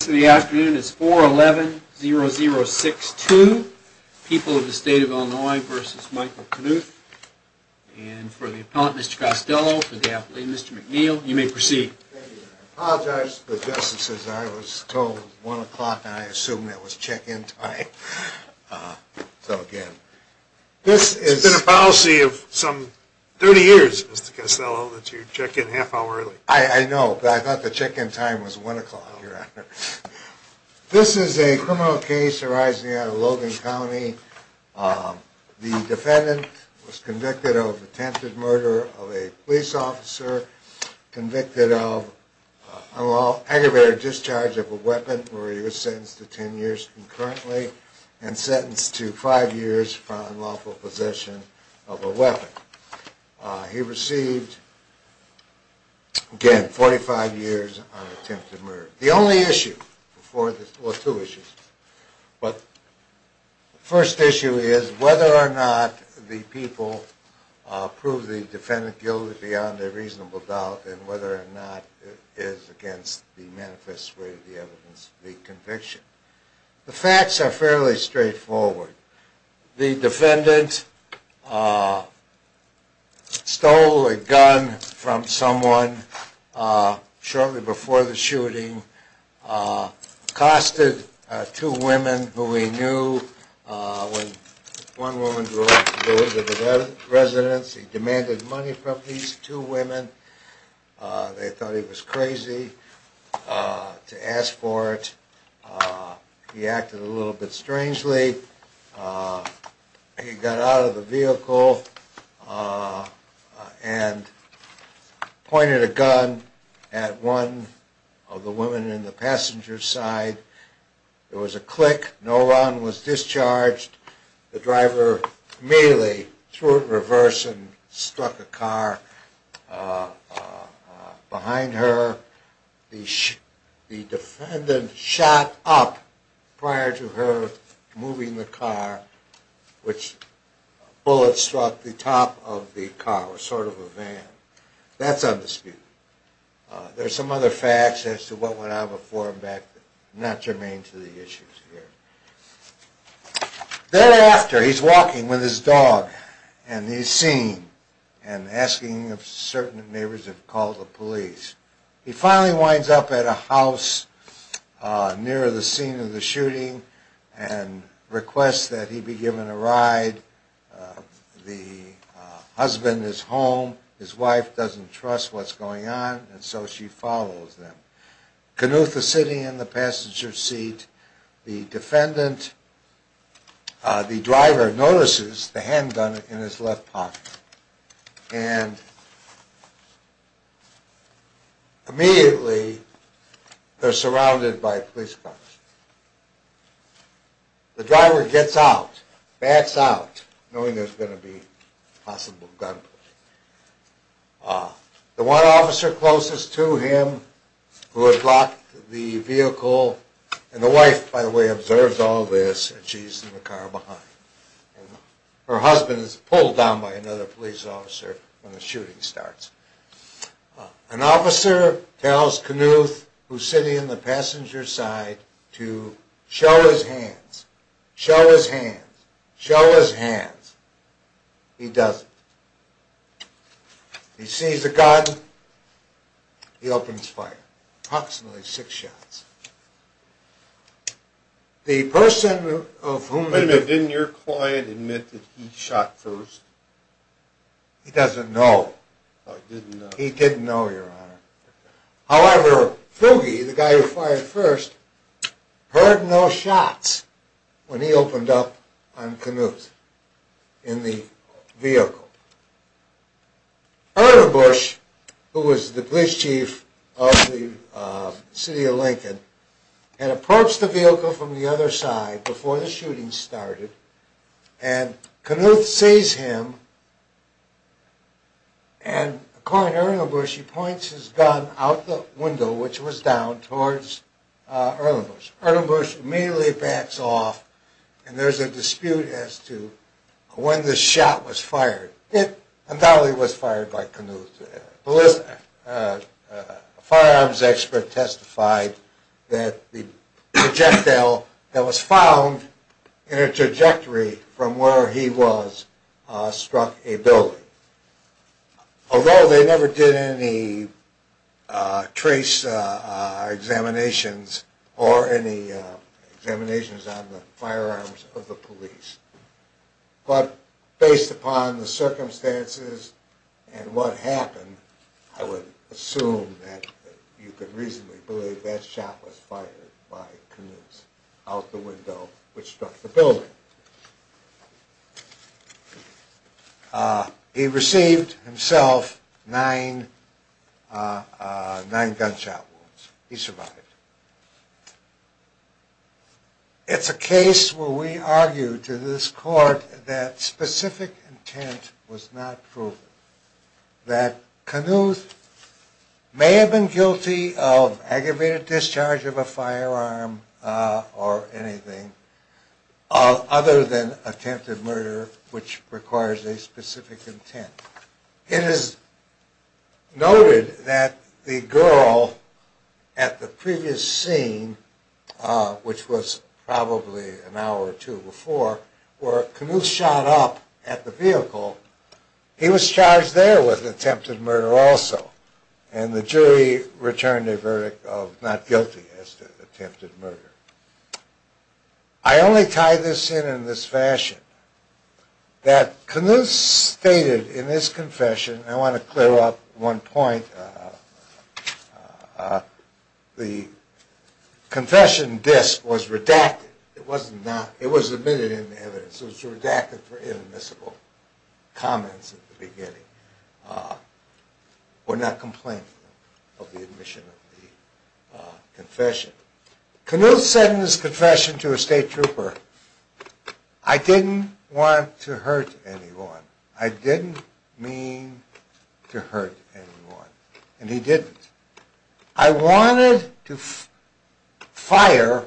So the afternoon is four eleven zero zero six two people of the state of Illinois versus Michael Knuth. And for the appellate, Mr. Costello, for the appellate, Mr. McNeil, you may proceed. I apologize to the justices. I was told one o'clock. I assume that was check in time. So, again, this is a policy of some 30 years, Mr. Costello, that you check in half hour early. I know, but I thought the check in time was one o'clock. This is a criminal case arising out of Logan County. The defendant was convicted of attempted murder of a police officer convicted of aggravated discharge of a weapon where he was sentenced to 10 years concurrently and sentenced to five years for unlawful possession of a weapon. He received, again, 45 years on attempted murder. The only issue before this, well, two issues, but the first issue is whether or not the people prove the defendant guilty beyond a reasonable doubt and whether or not it is against the manifest way of the evidence of the conviction. The facts are fairly straightforward. The defendant stole a gun from someone shortly before the shooting, costed two women who he knew. When one woman grew up, he demanded money from these two women. They thought he was crazy to ask for it. He acted a little bit strangely. He got out of the vehicle and pointed a gun at one of the women in the passenger side. There was a click. No one was discharged. The driver immediately threw it in reverse and struck a car behind her. The defendant shot up prior to her moving the car, which bullets struck the top of the car, sort of a van. That's undisputed. There's some other facts as to what went on before and after, not germane to the issues here. Thereafter, he's walking with his dog and he's seen and asking if certain neighbors have called the police. He finally winds up at a house near the scene of the shooting and requests that he be given a ride. The husband is home. His wife doesn't trust what's going on, and so she follows them. Knuth is sitting in the passenger seat. The defendant, the driver, notices the handgun in his left pocket, and immediately they're surrounded by police cars. The driver gets out, backs out, knowing there's going to be possible gunplay. The one officer closest to him, who had blocked the vehicle, and the wife, by the way, observes all this, and she's in the car behind. Her husband is pulled down by another police officer when the shooting starts. An officer tells Knuth, who's sitting in the passenger side, to show his hands, show his hands, show his hands. He doesn't. He sees the gun, he opens fire. Approximately six shots. The person of whom... Wait a minute, didn't your client admit that he shot first? He doesn't know. Oh, he didn't know. He didn't know, Your Honor. However, Fuge, the guy who fired first, heard no shots when he opened up on Knuth in the vehicle. Ernebush, who was the police chief of the city of Lincoln, had approached the vehicle from the other side before the shooting started, and Knuth sees him. And according to Ernebush, he points his gun out the window, which was down, towards Ernebush. Ernebush immediately backs off, and there's a dispute as to when this shot was fired. It undoubtedly was fired by Knuth. A firearms expert testified that the projectile that was found in a trajectory from where he was struck a building. Although they never did any trace examinations or any examinations on the firearms of the police. But based upon the circumstances and what happened, I would assume that you could reasonably believe that shot was fired by Knuth out the window, which struck the building. He received, himself, nine gunshot wounds. He survived. It's a case where we argue to this court that specific intent was not proven. That Knuth may have been guilty of aggravated discharge of a firearm or anything, other than attempted murder, which requires a specific intent. It is noted that the girl at the previous scene, which was probably an hour or two before, where Knuth shot up at the vehicle, he was charged there with attempted murder also. And the jury returned a verdict of not guilty as to attempted murder. I only tie this in in this fashion, that Knuth stated in his confession, and I want to clear up one point, the confession disc was redacted. It was admitted in the evidence, so it was redacted for inadmissible comments at the beginning, or not complaining of the admission of the confession. Knuth said in his confession to a state trooper, I didn't want to hurt anyone. I didn't mean to hurt anyone, and he didn't. I wanted to fire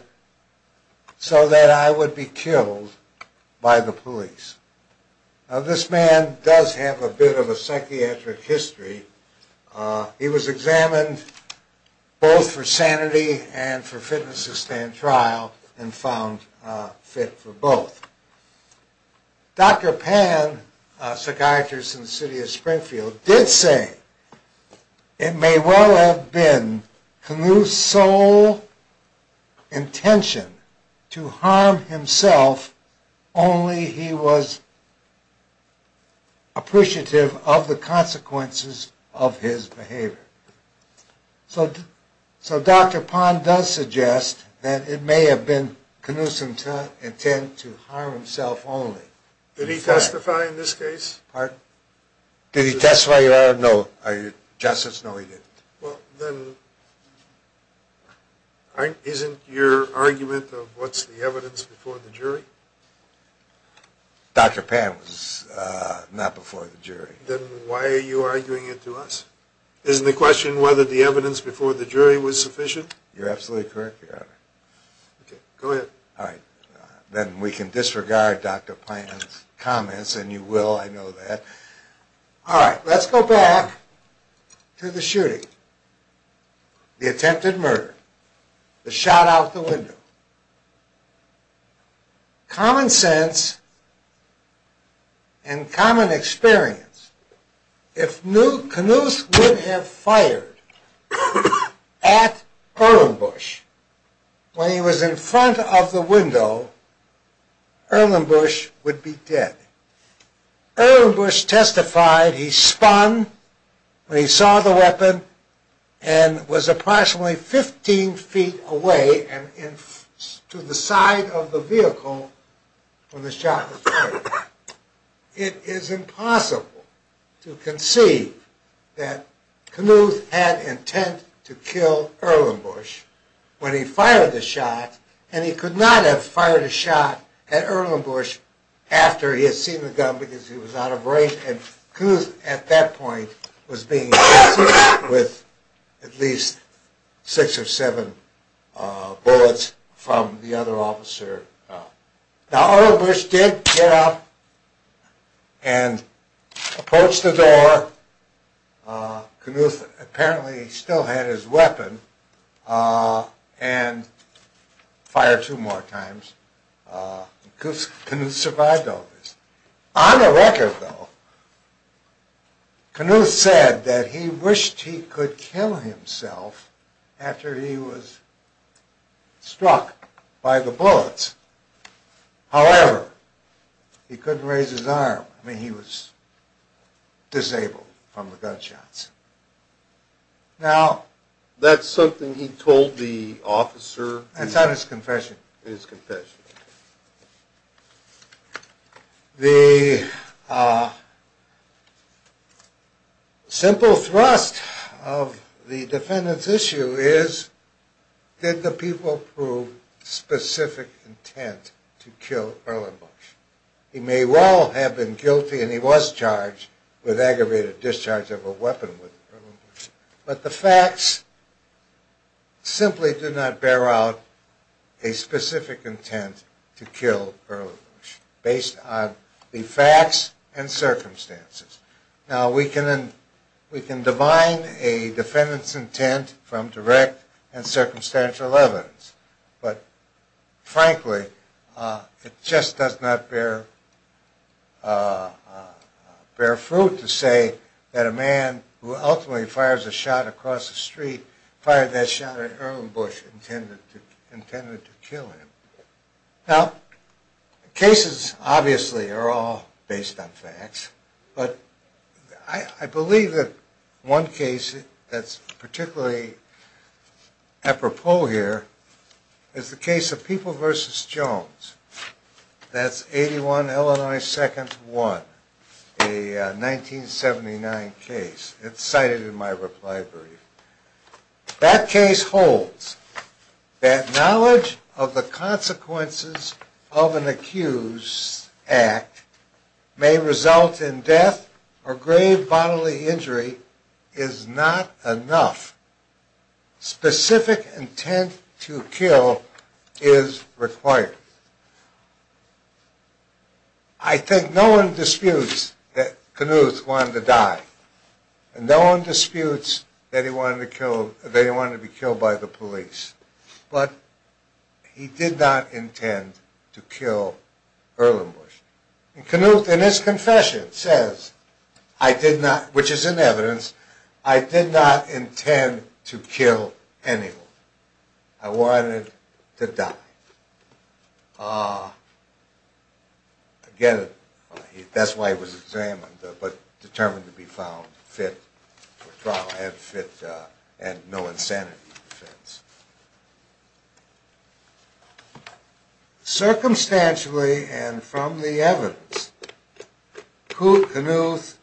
so that I would be killed by the police. Now, this man does have a bit of a psychiatric history. He was examined both for sanity and for fitness to stand trial, and found fit for both. Dr. Pan, a psychiatrist in the city of Springfield, did say it may well have been Knuth's sole intention to harm himself only he was appreciative of the consequences of his behavior. So Dr. Pan does suggest that it may have been Knuth's intent to harm himself only. Did he testify in this case? Did he testify? No. Are you justice? No, he didn't. Well, then isn't your argument of what's the evidence before the jury? Dr. Pan was not before the jury. Then why are you arguing it to us? Isn't the question whether the evidence before the jury was sufficient? You're absolutely correct, Your Honor. Okay, go ahead. Then we can disregard Dr. Pan's comments, and you will, I know that. All right, let's go back to the shooting, the attempted murder, the shot out the window. Common sense and common experience. If Knuth would have fired at Erlenbush when he was in front of the window, Erlenbush would be dead. Erlenbush testified he spun when he saw the weapon and was approximately 15 feet away to the side of the vehicle when the shot was fired. It is impossible to conceive that Knuth had intent to kill Erlenbush when he fired the shot, and he could not have fired a shot at Erlenbush after he had seen the gun because he was out of range, and Knuth at that point was being hit with at least six or seven bullets from the other officer. Now, Erlenbush did get up and approach the door. Knuth apparently still had his weapon and fired two more times. Knuth survived all this. On the record, though, Knuth said that he wished he could kill himself after he was struck by the bullets. However, he couldn't raise his arm. I mean, he was disabled from the gunshots. Now, that's something he told the officer. It's not his confession. His confession. The simple thrust of the defendant's issue is, did the people prove specific intent to kill Erlenbush? He may well have been guilty and he was charged with aggravated discharge of a weapon with Erlenbush. But the facts simply do not bear out a specific intent to kill Erlenbush based on the facts and circumstances. Now, we can divine a defendant's intent from direct and circumstantial evidence. But frankly, it just does not bear fruit to say that a man who ultimately fires a shot across the street fired that shot at Erlenbush intended to kill him. Now, cases obviously are all based on facts. But I believe that one case that's particularly apropos here is the case of People v. Jones. That's 81 Illinois 2nd 1, a 1979 case. It's cited in my reply brief. That case holds that knowledge of the consequences of an accused's act may result in death or grave bodily injury is not enough. Specific intent to kill is required. I think no one disputes that Knuth wanted to die. And no one disputes that he wanted to be killed by the police. But he did not intend to kill Erlenbush. Knuth, in his confession, says, which is in evidence, I did not intend to kill anyone. I wanted to die. Again, that's why he was examined, but determined to be found fit for trial and no insanity defense. Circumstantially and from the evidence, Knuth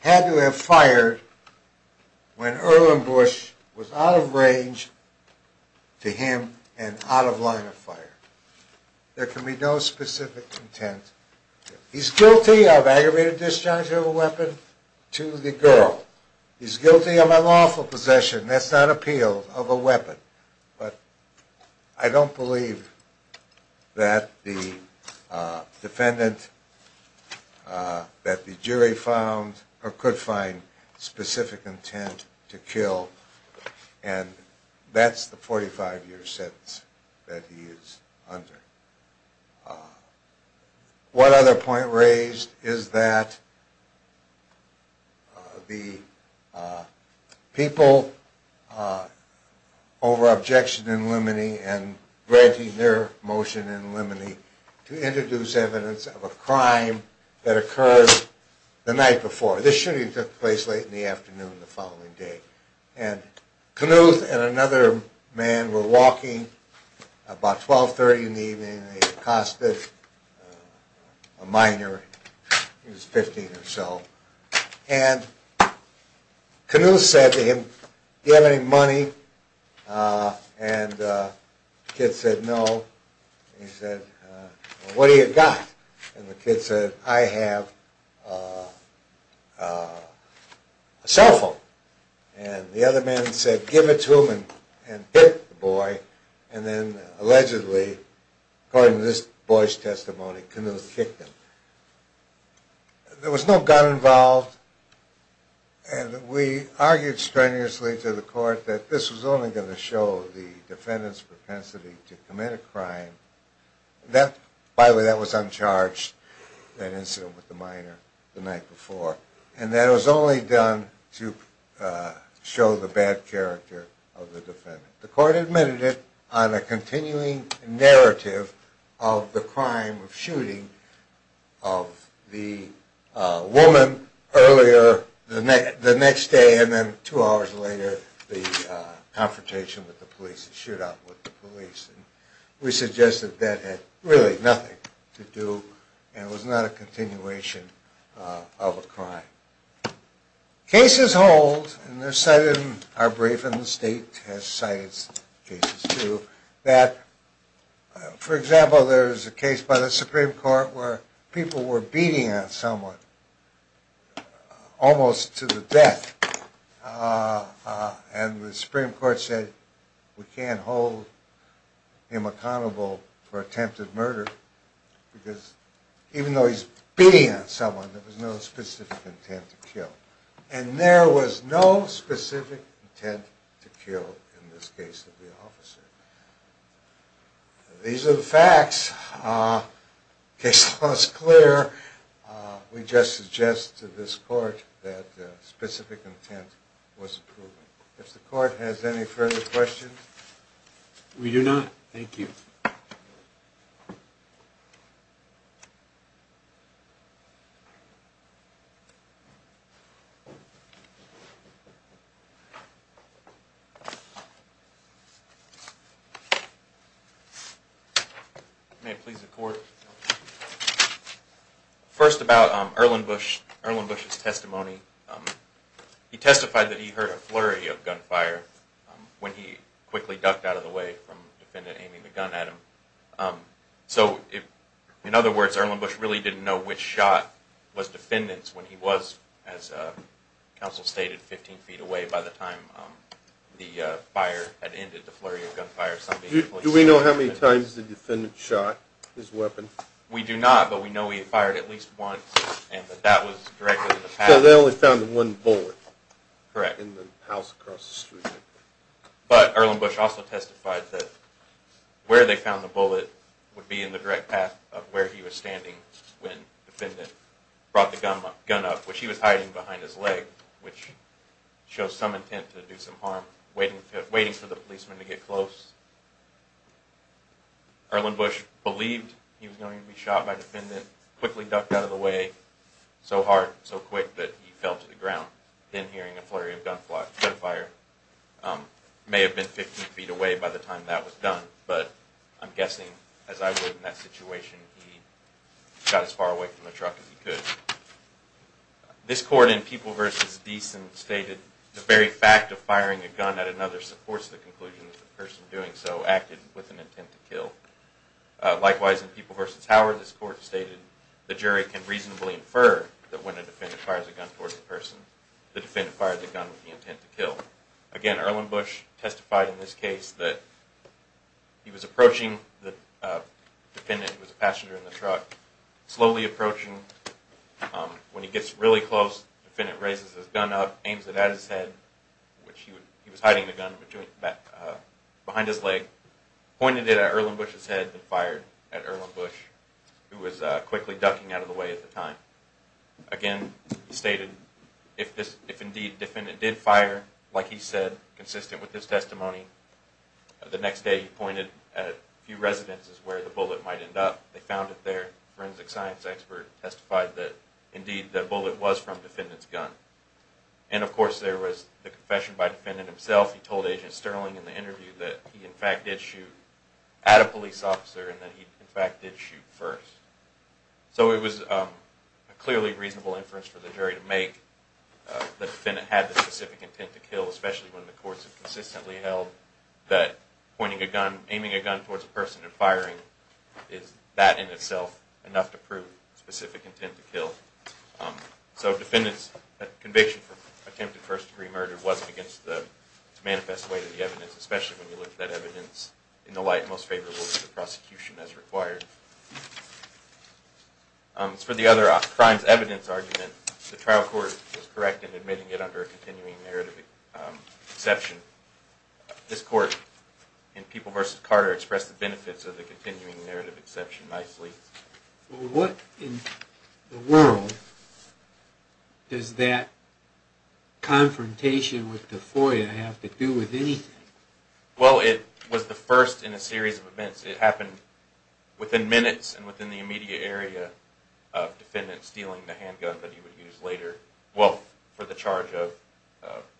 had to have fired when Erlenbush was out of range to him and out of line of fire. There can be no specific intent. He's guilty of aggravated discharge of a weapon to the girl. He's guilty of unlawful possession. That's not appeal of a weapon. But I don't believe that the defendant, that the jury found or could find specific intent to kill. And that's the 45 year sentence that he is under. One other point raised is that the people over objection in limine and granting their motion in limine to introduce evidence of a crime that occurred the night before. This shooting took place late in the afternoon the following day. And Knuth and another man were walking about 12.30 in the evening, a minor, he was 15 or so, and Knuth said to him, do you have any money, and the kid said no, and he said, what do you got? And the kid said, I have a cell phone. And the other man said, give it to him and hit the boy, and then allegedly, according to this boy's testimony, Knuth kicked him. There was no gun involved and we argued strenuously to the court that this was only going to show the defendant's propensity to commit a crime. By the way, that was uncharged, that incident with the minor the night before. And that it was only done to show the bad character of the defendant. The court admitted it on a continuing narrative of the crime of shooting of the woman earlier the next day and then two hours later, the confrontation with the police, the shootout with the police. We suggested that had really nothing to do and it was not a continuation of a crime. Cases hold, and our brief in the state has cited cases too, that, for example, there's a case by the Supreme Court where people were beating on someone almost to the death. And the Supreme Court said we can't hold him accountable for attempted murder because even though he's beating on someone, there was no specific intent to kill. And there was no specific intent to kill in this case of the officer. These are the facts. Case law is clear. We just suggest to this court that specific intent was approved. If the court has any further questions. We do not. Thank you. May it please the court. First about Erlenbush's testimony. He testified that he heard a flurry of gunfire when he quickly ducked out of the way from the defendant aiming the gun at him. So, in other words, Erlenbush really didn't know which shot was defendant's when he was, as counsel stated, 15 feet away by the time the fire had ended, the flurry of gunfire. Do we know how many times the defendant shot his weapon? We do not, but we know he fired at least once. So they only found one bullet? Correct. In the house across the street. But Erlenbush also testified that where they found the bullet would be in the direct path of where he was standing when the defendant brought the gun up, which he was hiding behind his leg, which shows some intent to do some harm, waiting for the policeman to get close. Erlenbush believed he was going to be shot by defendant, quickly ducked out of the way, so hard, so quick, that he fell to the ground, then hearing a flurry of gunfire. May have been 15 feet away by the time that was done, but I'm guessing, as I would in that situation, he got as far away from the truck as he could. This court in People v. Deason stated, the very fact of firing a gun at another supports the conclusion that the person doing so acted with an intent to kill. Likewise, in People v. Howard, this court stated, the jury can reasonably infer that when a defendant fires a gun towards a person, the defendant fired the gun with the intent to kill. Again, Erlenbush testified in this case that he was approaching the defendant who was a passenger in the truck, slowly approaching. When he gets really close, the defendant raises his gun up, aims it at his head, which he was hiding the gun behind his leg, pointed it at Erlenbush's head, and fired at Erlenbush, who was quickly ducking out of the way at the time. Again, he stated, if indeed the defendant did fire, like he said, consistent with his testimony, the next day he residences where the bullet might end up. They found it there. Forensic science expert testified that, indeed, the bullet was from the defendant's gun. And of course, there was the confession by the defendant himself. He told Agent Sterling in the interview that he, in fact, did shoot at a police officer and that he, in fact, did shoot first. So it was a clearly reasonable inference for the jury to make that the defendant had the specific intent to kill, especially when the courts have consistently held that aiming a gun towards a person and firing is, that in itself, enough to prove specific intent to kill. So the defendant's conviction for attempted first degree murder wasn't against the manifest way to the evidence, especially when you look at that evidence in the light most favorable to the prosecution as required. As for the other crimes evidence argument, the trial court was correct in admitting it under a continuing narrative exception. This court, in People v. Carter, expressed the benefits of the Well, it was the first in a series of events. It happened within minutes and within the immediate area of the defendant stealing the handgun that he would use later, well, for the charge of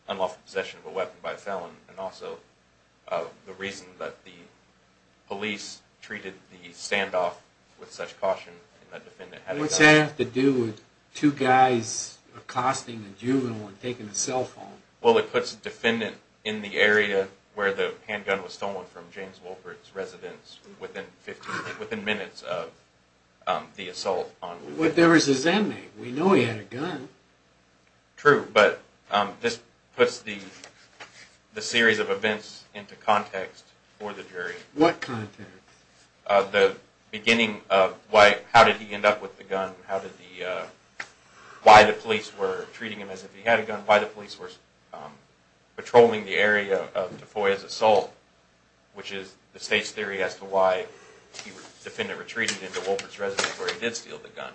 unlawful possession of a weapon by a felon and also the reason that the police treated the standoff with such caution. What's that have to do with two guys accosting a juvenile and taking the cell phone? Well, it puts the defendant in the area where the handgun was stolen from James Wolpert's residence within minutes of the assault. But there was his inmate. We know he had a gun. True, but this puts the series of events into context for the jury. What context? The beginning of how did he end up with the gun, why the police were treating him as if he had a gun, why the police were patrolling the area of DeFoy's assault, which is the state's theory as to why the defendant retreated into Wolpert's residence where he did steal the gun.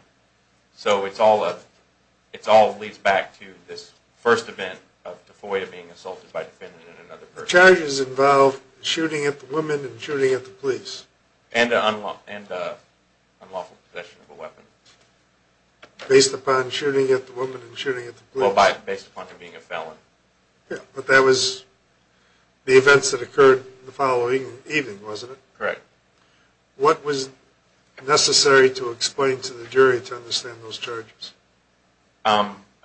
So it all leads back to this first event of DeFoy being assaulted by a defendant and another person. The charges involved shooting at the woman and shooting at the police. And unlawful possession of a weapon. Based upon shooting at the woman and shooting at the police. Well, based upon him being a felon. Yeah, but that was the events that occurred the following evening, wasn't it? Correct. What was necessary to explain to the jury to understand those charges?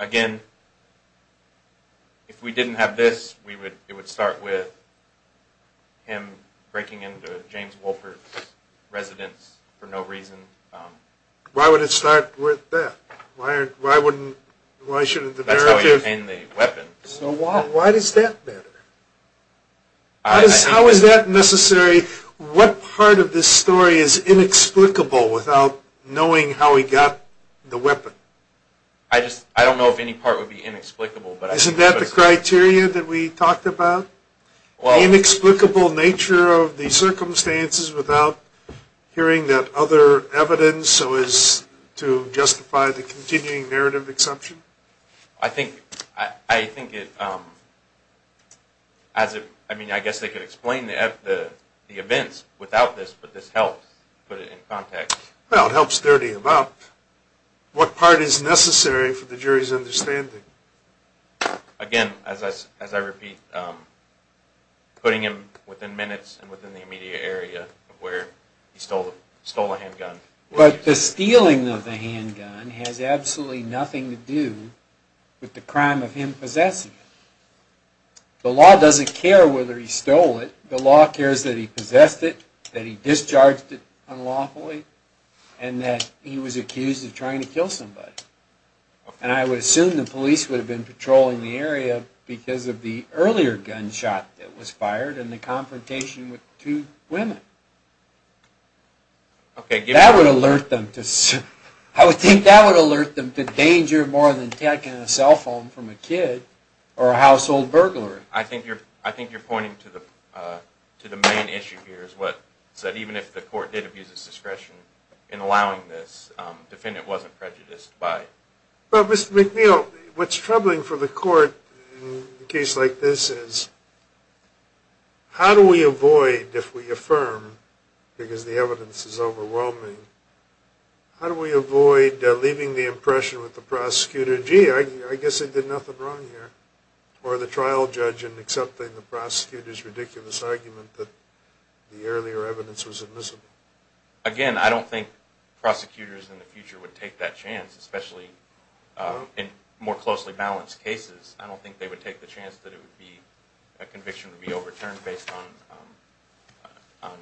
Again, if we didn't have this, it would start with him breaking into James Wolpert's residence for no reason. Why would it start with that? That's how he obtained the weapon. Why does that matter? How is that necessary? What part of this story is inexplicable without knowing how he got the weapon? I don't know if any part would be inexplicable. Isn't that the criteria that we talked about? The inexplicable nature of the circumstances without hearing that other evidence so as to justify the continuing narrative exception? I think it... I mean, I guess they could explain the events without this, but this helps put it in context. Well, it helps dirty him up. What part is necessary for the jury's understanding? Again, as I repeat, putting him within minutes and within the immediate area of where he stole a handgun. But the stealing of the handgun has absolutely nothing to do with the crime of him possessing it. The law doesn't care whether he stole it. The law cares that he possessed it, that he discharged it unlawfully, and that he was accused of trying to kill somebody. And I would assume the police would have been patrolling the area because of the earlier gunshot that was fired and the confrontation with two women. That would alert them to... I would think that would alert them to danger more than taking a cell phone from a kid or a household burglar. I think you're pointing to the main issue here is that even if the court did abuse its discretion in allowing this, the defendant wasn't prejudiced by it. Well, Mr. McNeil, what's troubling for the court in a case like this is how do we avoid, if we affirm, because the evidence is overwhelming, how do we avoid leaving the impression with the prosecutor, gee, I guess I did nothing wrong here, or the trial judge in accepting the prosecutor's ridiculous argument that the earlier evidence was admissible? Again, I don't think prosecutors in the future would take that chance, especially in more closely balanced cases. I don't think they would take the chance that a conviction would be overturned based on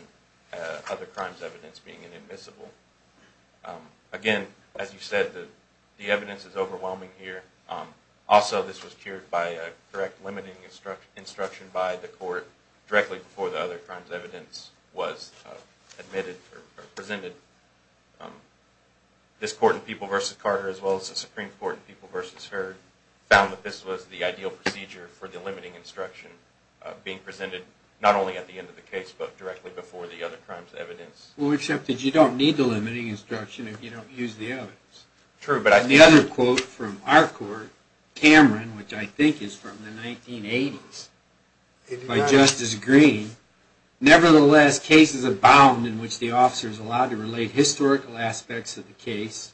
other crimes' evidence being inadmissible. Again, as you said, the evidence is overwhelming here. Also, this was cured by a direct limiting instruction by the court directly before the other crime's evidence was admitted or presented. This court in People v. Carter, as well as the Supreme Court in People v. Heard, found that this was the ideal procedure for the limiting instruction being presented not only at the end of the case, but directly before the other crime's evidence. Well, except that you don't need the limiting instruction if you don't use the evidence. And the other quote from our court, Cameron, which I think is from the 1980s, by Justice Green, nevertheless, cases abound in which the officer is allowed to relate historical aspects of the case,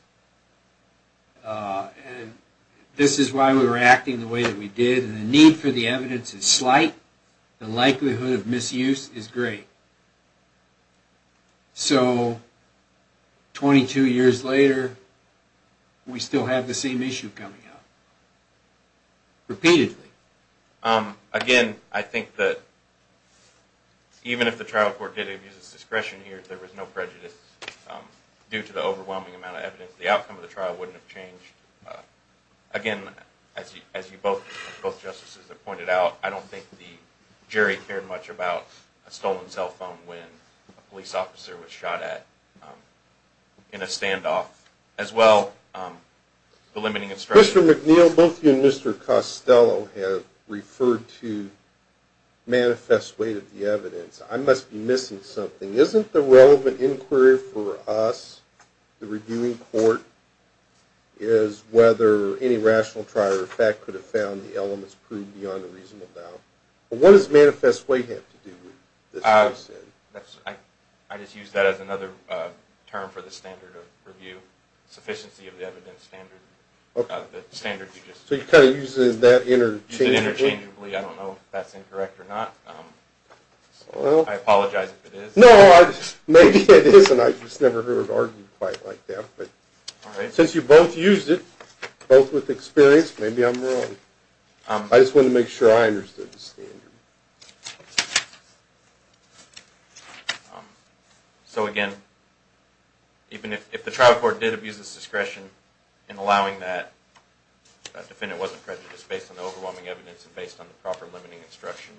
and this is why we were acting the way that we did, and the need for the evidence is slight, the likelihood of misuse is great. So, 22 years later, we still have the same issue coming up, repeatedly. Again, I think that even if the trial court did abuse its discretion here, there was no prejudice. Due to the overwhelming amount of evidence, the outcome of the trial wouldn't have changed. Again, as you both justices have pointed out, I don't think the jury cared much about a stolen cell phone when a police officer was shot at in a standoff. As well, the limiting instruction... Mr. McNeil, both you and Mr. Costello have referred to manifest way to the evidence. I must be missing something. Isn't the relevant inquiry for us, the reviewing court, is whether any rational trial or fact could have found the elements proved beyond a reasonable doubt? What does manifest way have to do with this? I just used that as another term for the standard of review, sufficiency of the evidence standard. So you're kind of using that interchangeably? I don't know if that's incorrect or not. I apologize if it is. No, maybe it is, and I just never heard it argued quite like that. Since you both used it, both with experience, maybe I'm wrong. I just wanted to make sure I understood the standard. So again, even if the trial court did abuse its discretion in allowing that, the defendant wasn't prejudiced based on the overwhelming evidence and based on the proper limiting instruction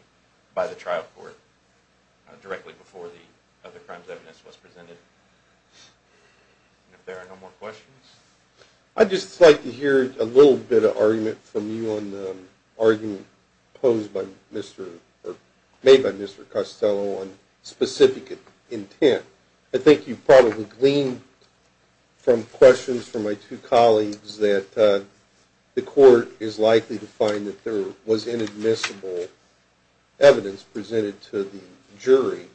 by the trial court directly before the other crimes evidence was presented. If there are no more questions... I'd just like to hear a little bit of argument from you on the argument made by Mr. Costello on specific intent. I think you probably gleaned from questions from my two colleagues that the court is likely to find that there was inadmissible evidence presented to the jury.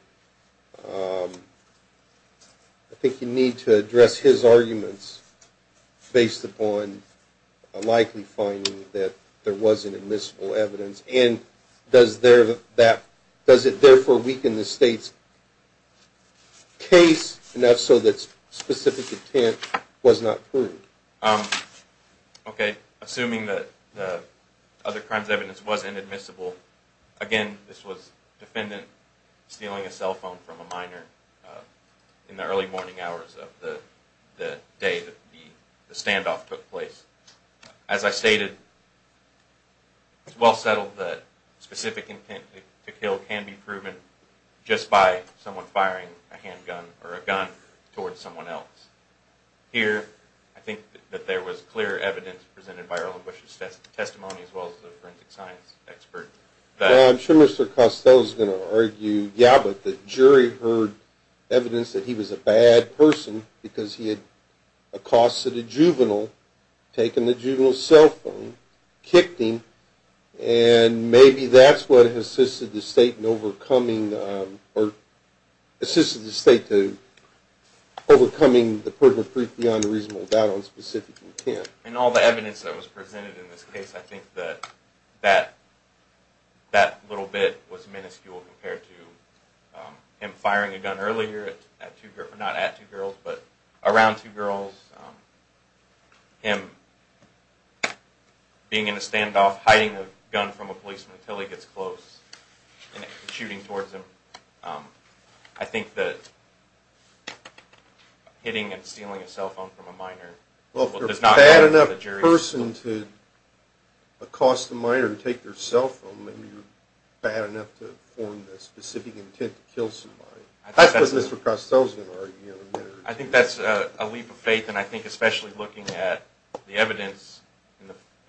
I think you need to address his arguments based upon a likely finding that there was inadmissible evidence. Does it therefore weaken the state's case enough so that specific intent was not proved? Assuming that the other crimes evidence was inadmissible, again, this was the defendant stealing a cell phone from a minor in the early morning hours of the day the standoff took place. As I stated, it's well settled that specific intent to kill can be proven just by someone firing a handgun or a gun towards someone else. Here, I think that there was clear evidence presented by Earl and Bush's testimony as well as the forensic science expert. I'm sure Mr. Costello is going to argue, yeah, but the jury heard evidence that he was a bad person because he had accosted a juvenile, taken the juvenile's cell phone, kicked him, and maybe that's what assisted the state in overcoming the proof beyond a reasonable doubt on specific intent. In all the evidence that was presented in this case, I think that that little bit was minuscule compared to him firing a gun earlier, not at two girls, but around two girls, him being in a standoff, hiding a gun from a policeman until he gets close and shooting towards him. I think that hitting and stealing a cell phone from a minor does not matter for the jury. Well, if you're a bad enough person to accost a minor and take their cell phone, then you're bad enough to form the specific intent to kill somebody. That's what Mr. Costello is going to argue. I think that's a leap of faith, and I think especially looking at the evidence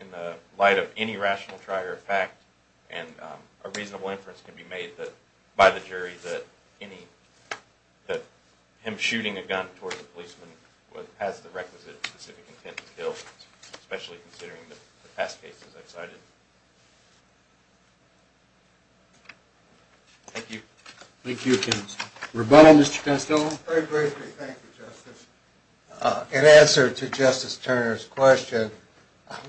in the light of any rational try or fact, and a reasonable inference can be made by the jury that him shooting a gun towards a policeman has the requisite specific intent to kill, especially considering the past cases I cited. Thank you. Thank you. Rebuttal, Mr. Costello? Very briefly, thank you, Justice. In answer to Justice Turner's question,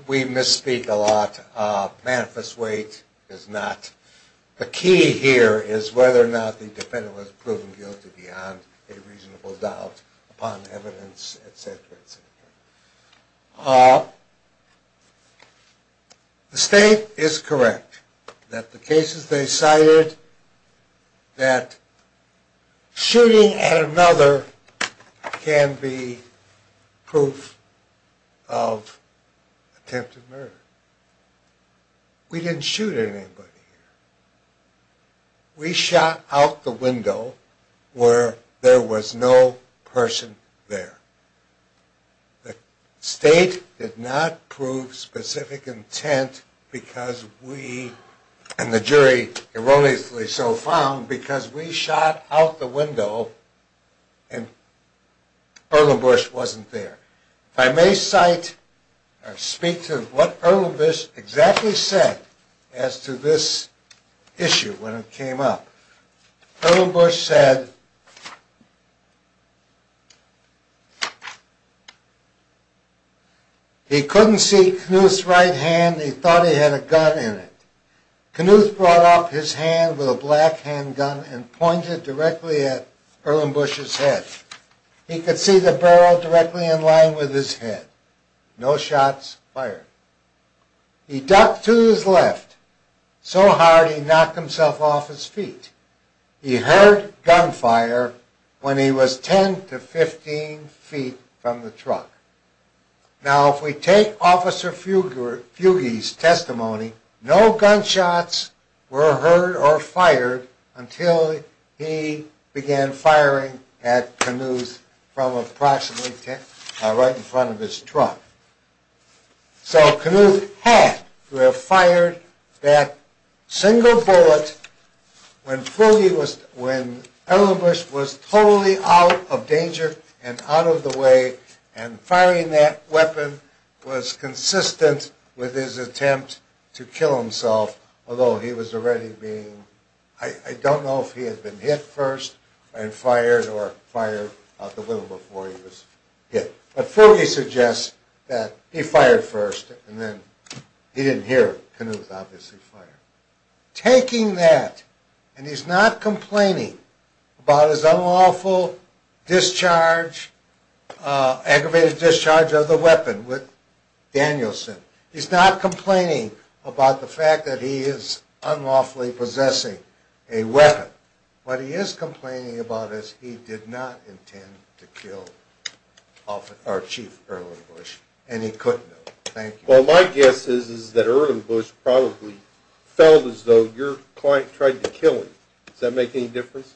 we misspeak a lot. Manifest weight is not. The key here is whether or not the defendant was proven guilty beyond a reasonable doubt upon evidence, et cetera, et cetera. The state is correct that the cases they cited, that shooting at another can be proof of attempted murder. We didn't shoot anybody here. We shot out the window where there was no person there. The state did not prove specific intent because we, and the jury erroneously so found, because we shot out the window and Erlenbush wasn't there. If I may cite or speak to what Erlenbush exactly said as to this issue when it came up. Erlenbush said he couldn't see Knuth's right hand. He thought he had a gun in it. Knuth brought up his hand with a black handgun and pointed directly at Erlenbush's head. He could see the barrel directly in line with his head. No shots fired. He ducked to his left so hard he knocked himself off his feet. He heard gunfire when he was 10 to 15 feet from the truck. Now if we take Officer Fugge's testimony, no gunshots were heard or fired until he began firing at Knuth from approximately right in front of his truck. So Knuth had to have fired that single bullet when Erlenbush was totally out of danger and out of the way and firing that weapon was consistent with his attempt to kill himself. Although he was already being, I don't know if he had been hit first and fired or fired out the window before he was hit. But Fugge suggests that he fired first and then he didn't hear Knuth obviously fire. Taking that and he's not complaining about his unlawful discharge, aggravated discharge of the weapon with Danielson. He's not complaining about the fact that he is unlawfully possessing a weapon. What he is complaining about is he did not intend to kill Chief Erlenbush and he couldn't have, thank you. Well my guess is that Erlenbush probably felt as though your client tried to kill him. Does that make any difference?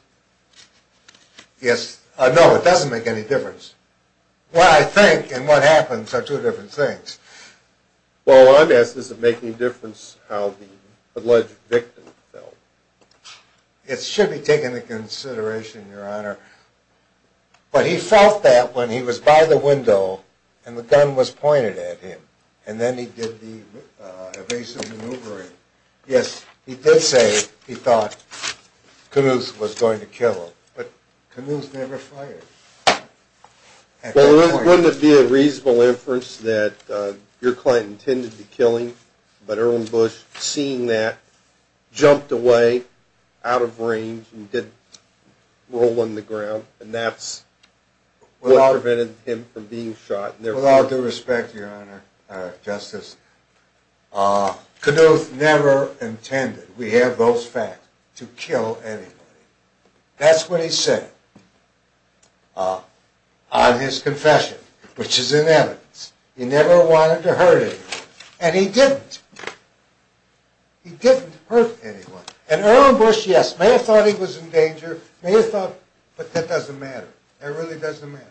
Yes, no it doesn't make any difference. Well I think and what happens are two different things. Well my guess is it doesn't make any difference how the alleged victim felt. It should be taken into consideration your honor. But he felt that when he was by the window and the gun was pointed at him and then he did the evasive maneuvering. Yes he did say he thought Knuth was going to kill him but Knuth never fired. Well wouldn't it be a reasonable inference that your client intended to kill him but Erlenbush seeing that jumped away out of range and did roll on the ground and that's what prevented him from being shot. With all due respect your honor, justice, Knuth never intended, we have those facts, to kill anybody. That's what he said on his confession which is in evidence. He never wanted to hurt anyone and he didn't. He didn't hurt anyone and Erlenbush, yes, may have thought he was in danger, may have thought but that doesn't matter. That really doesn't matter.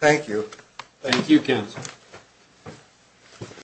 Thank you. Thank you counsel.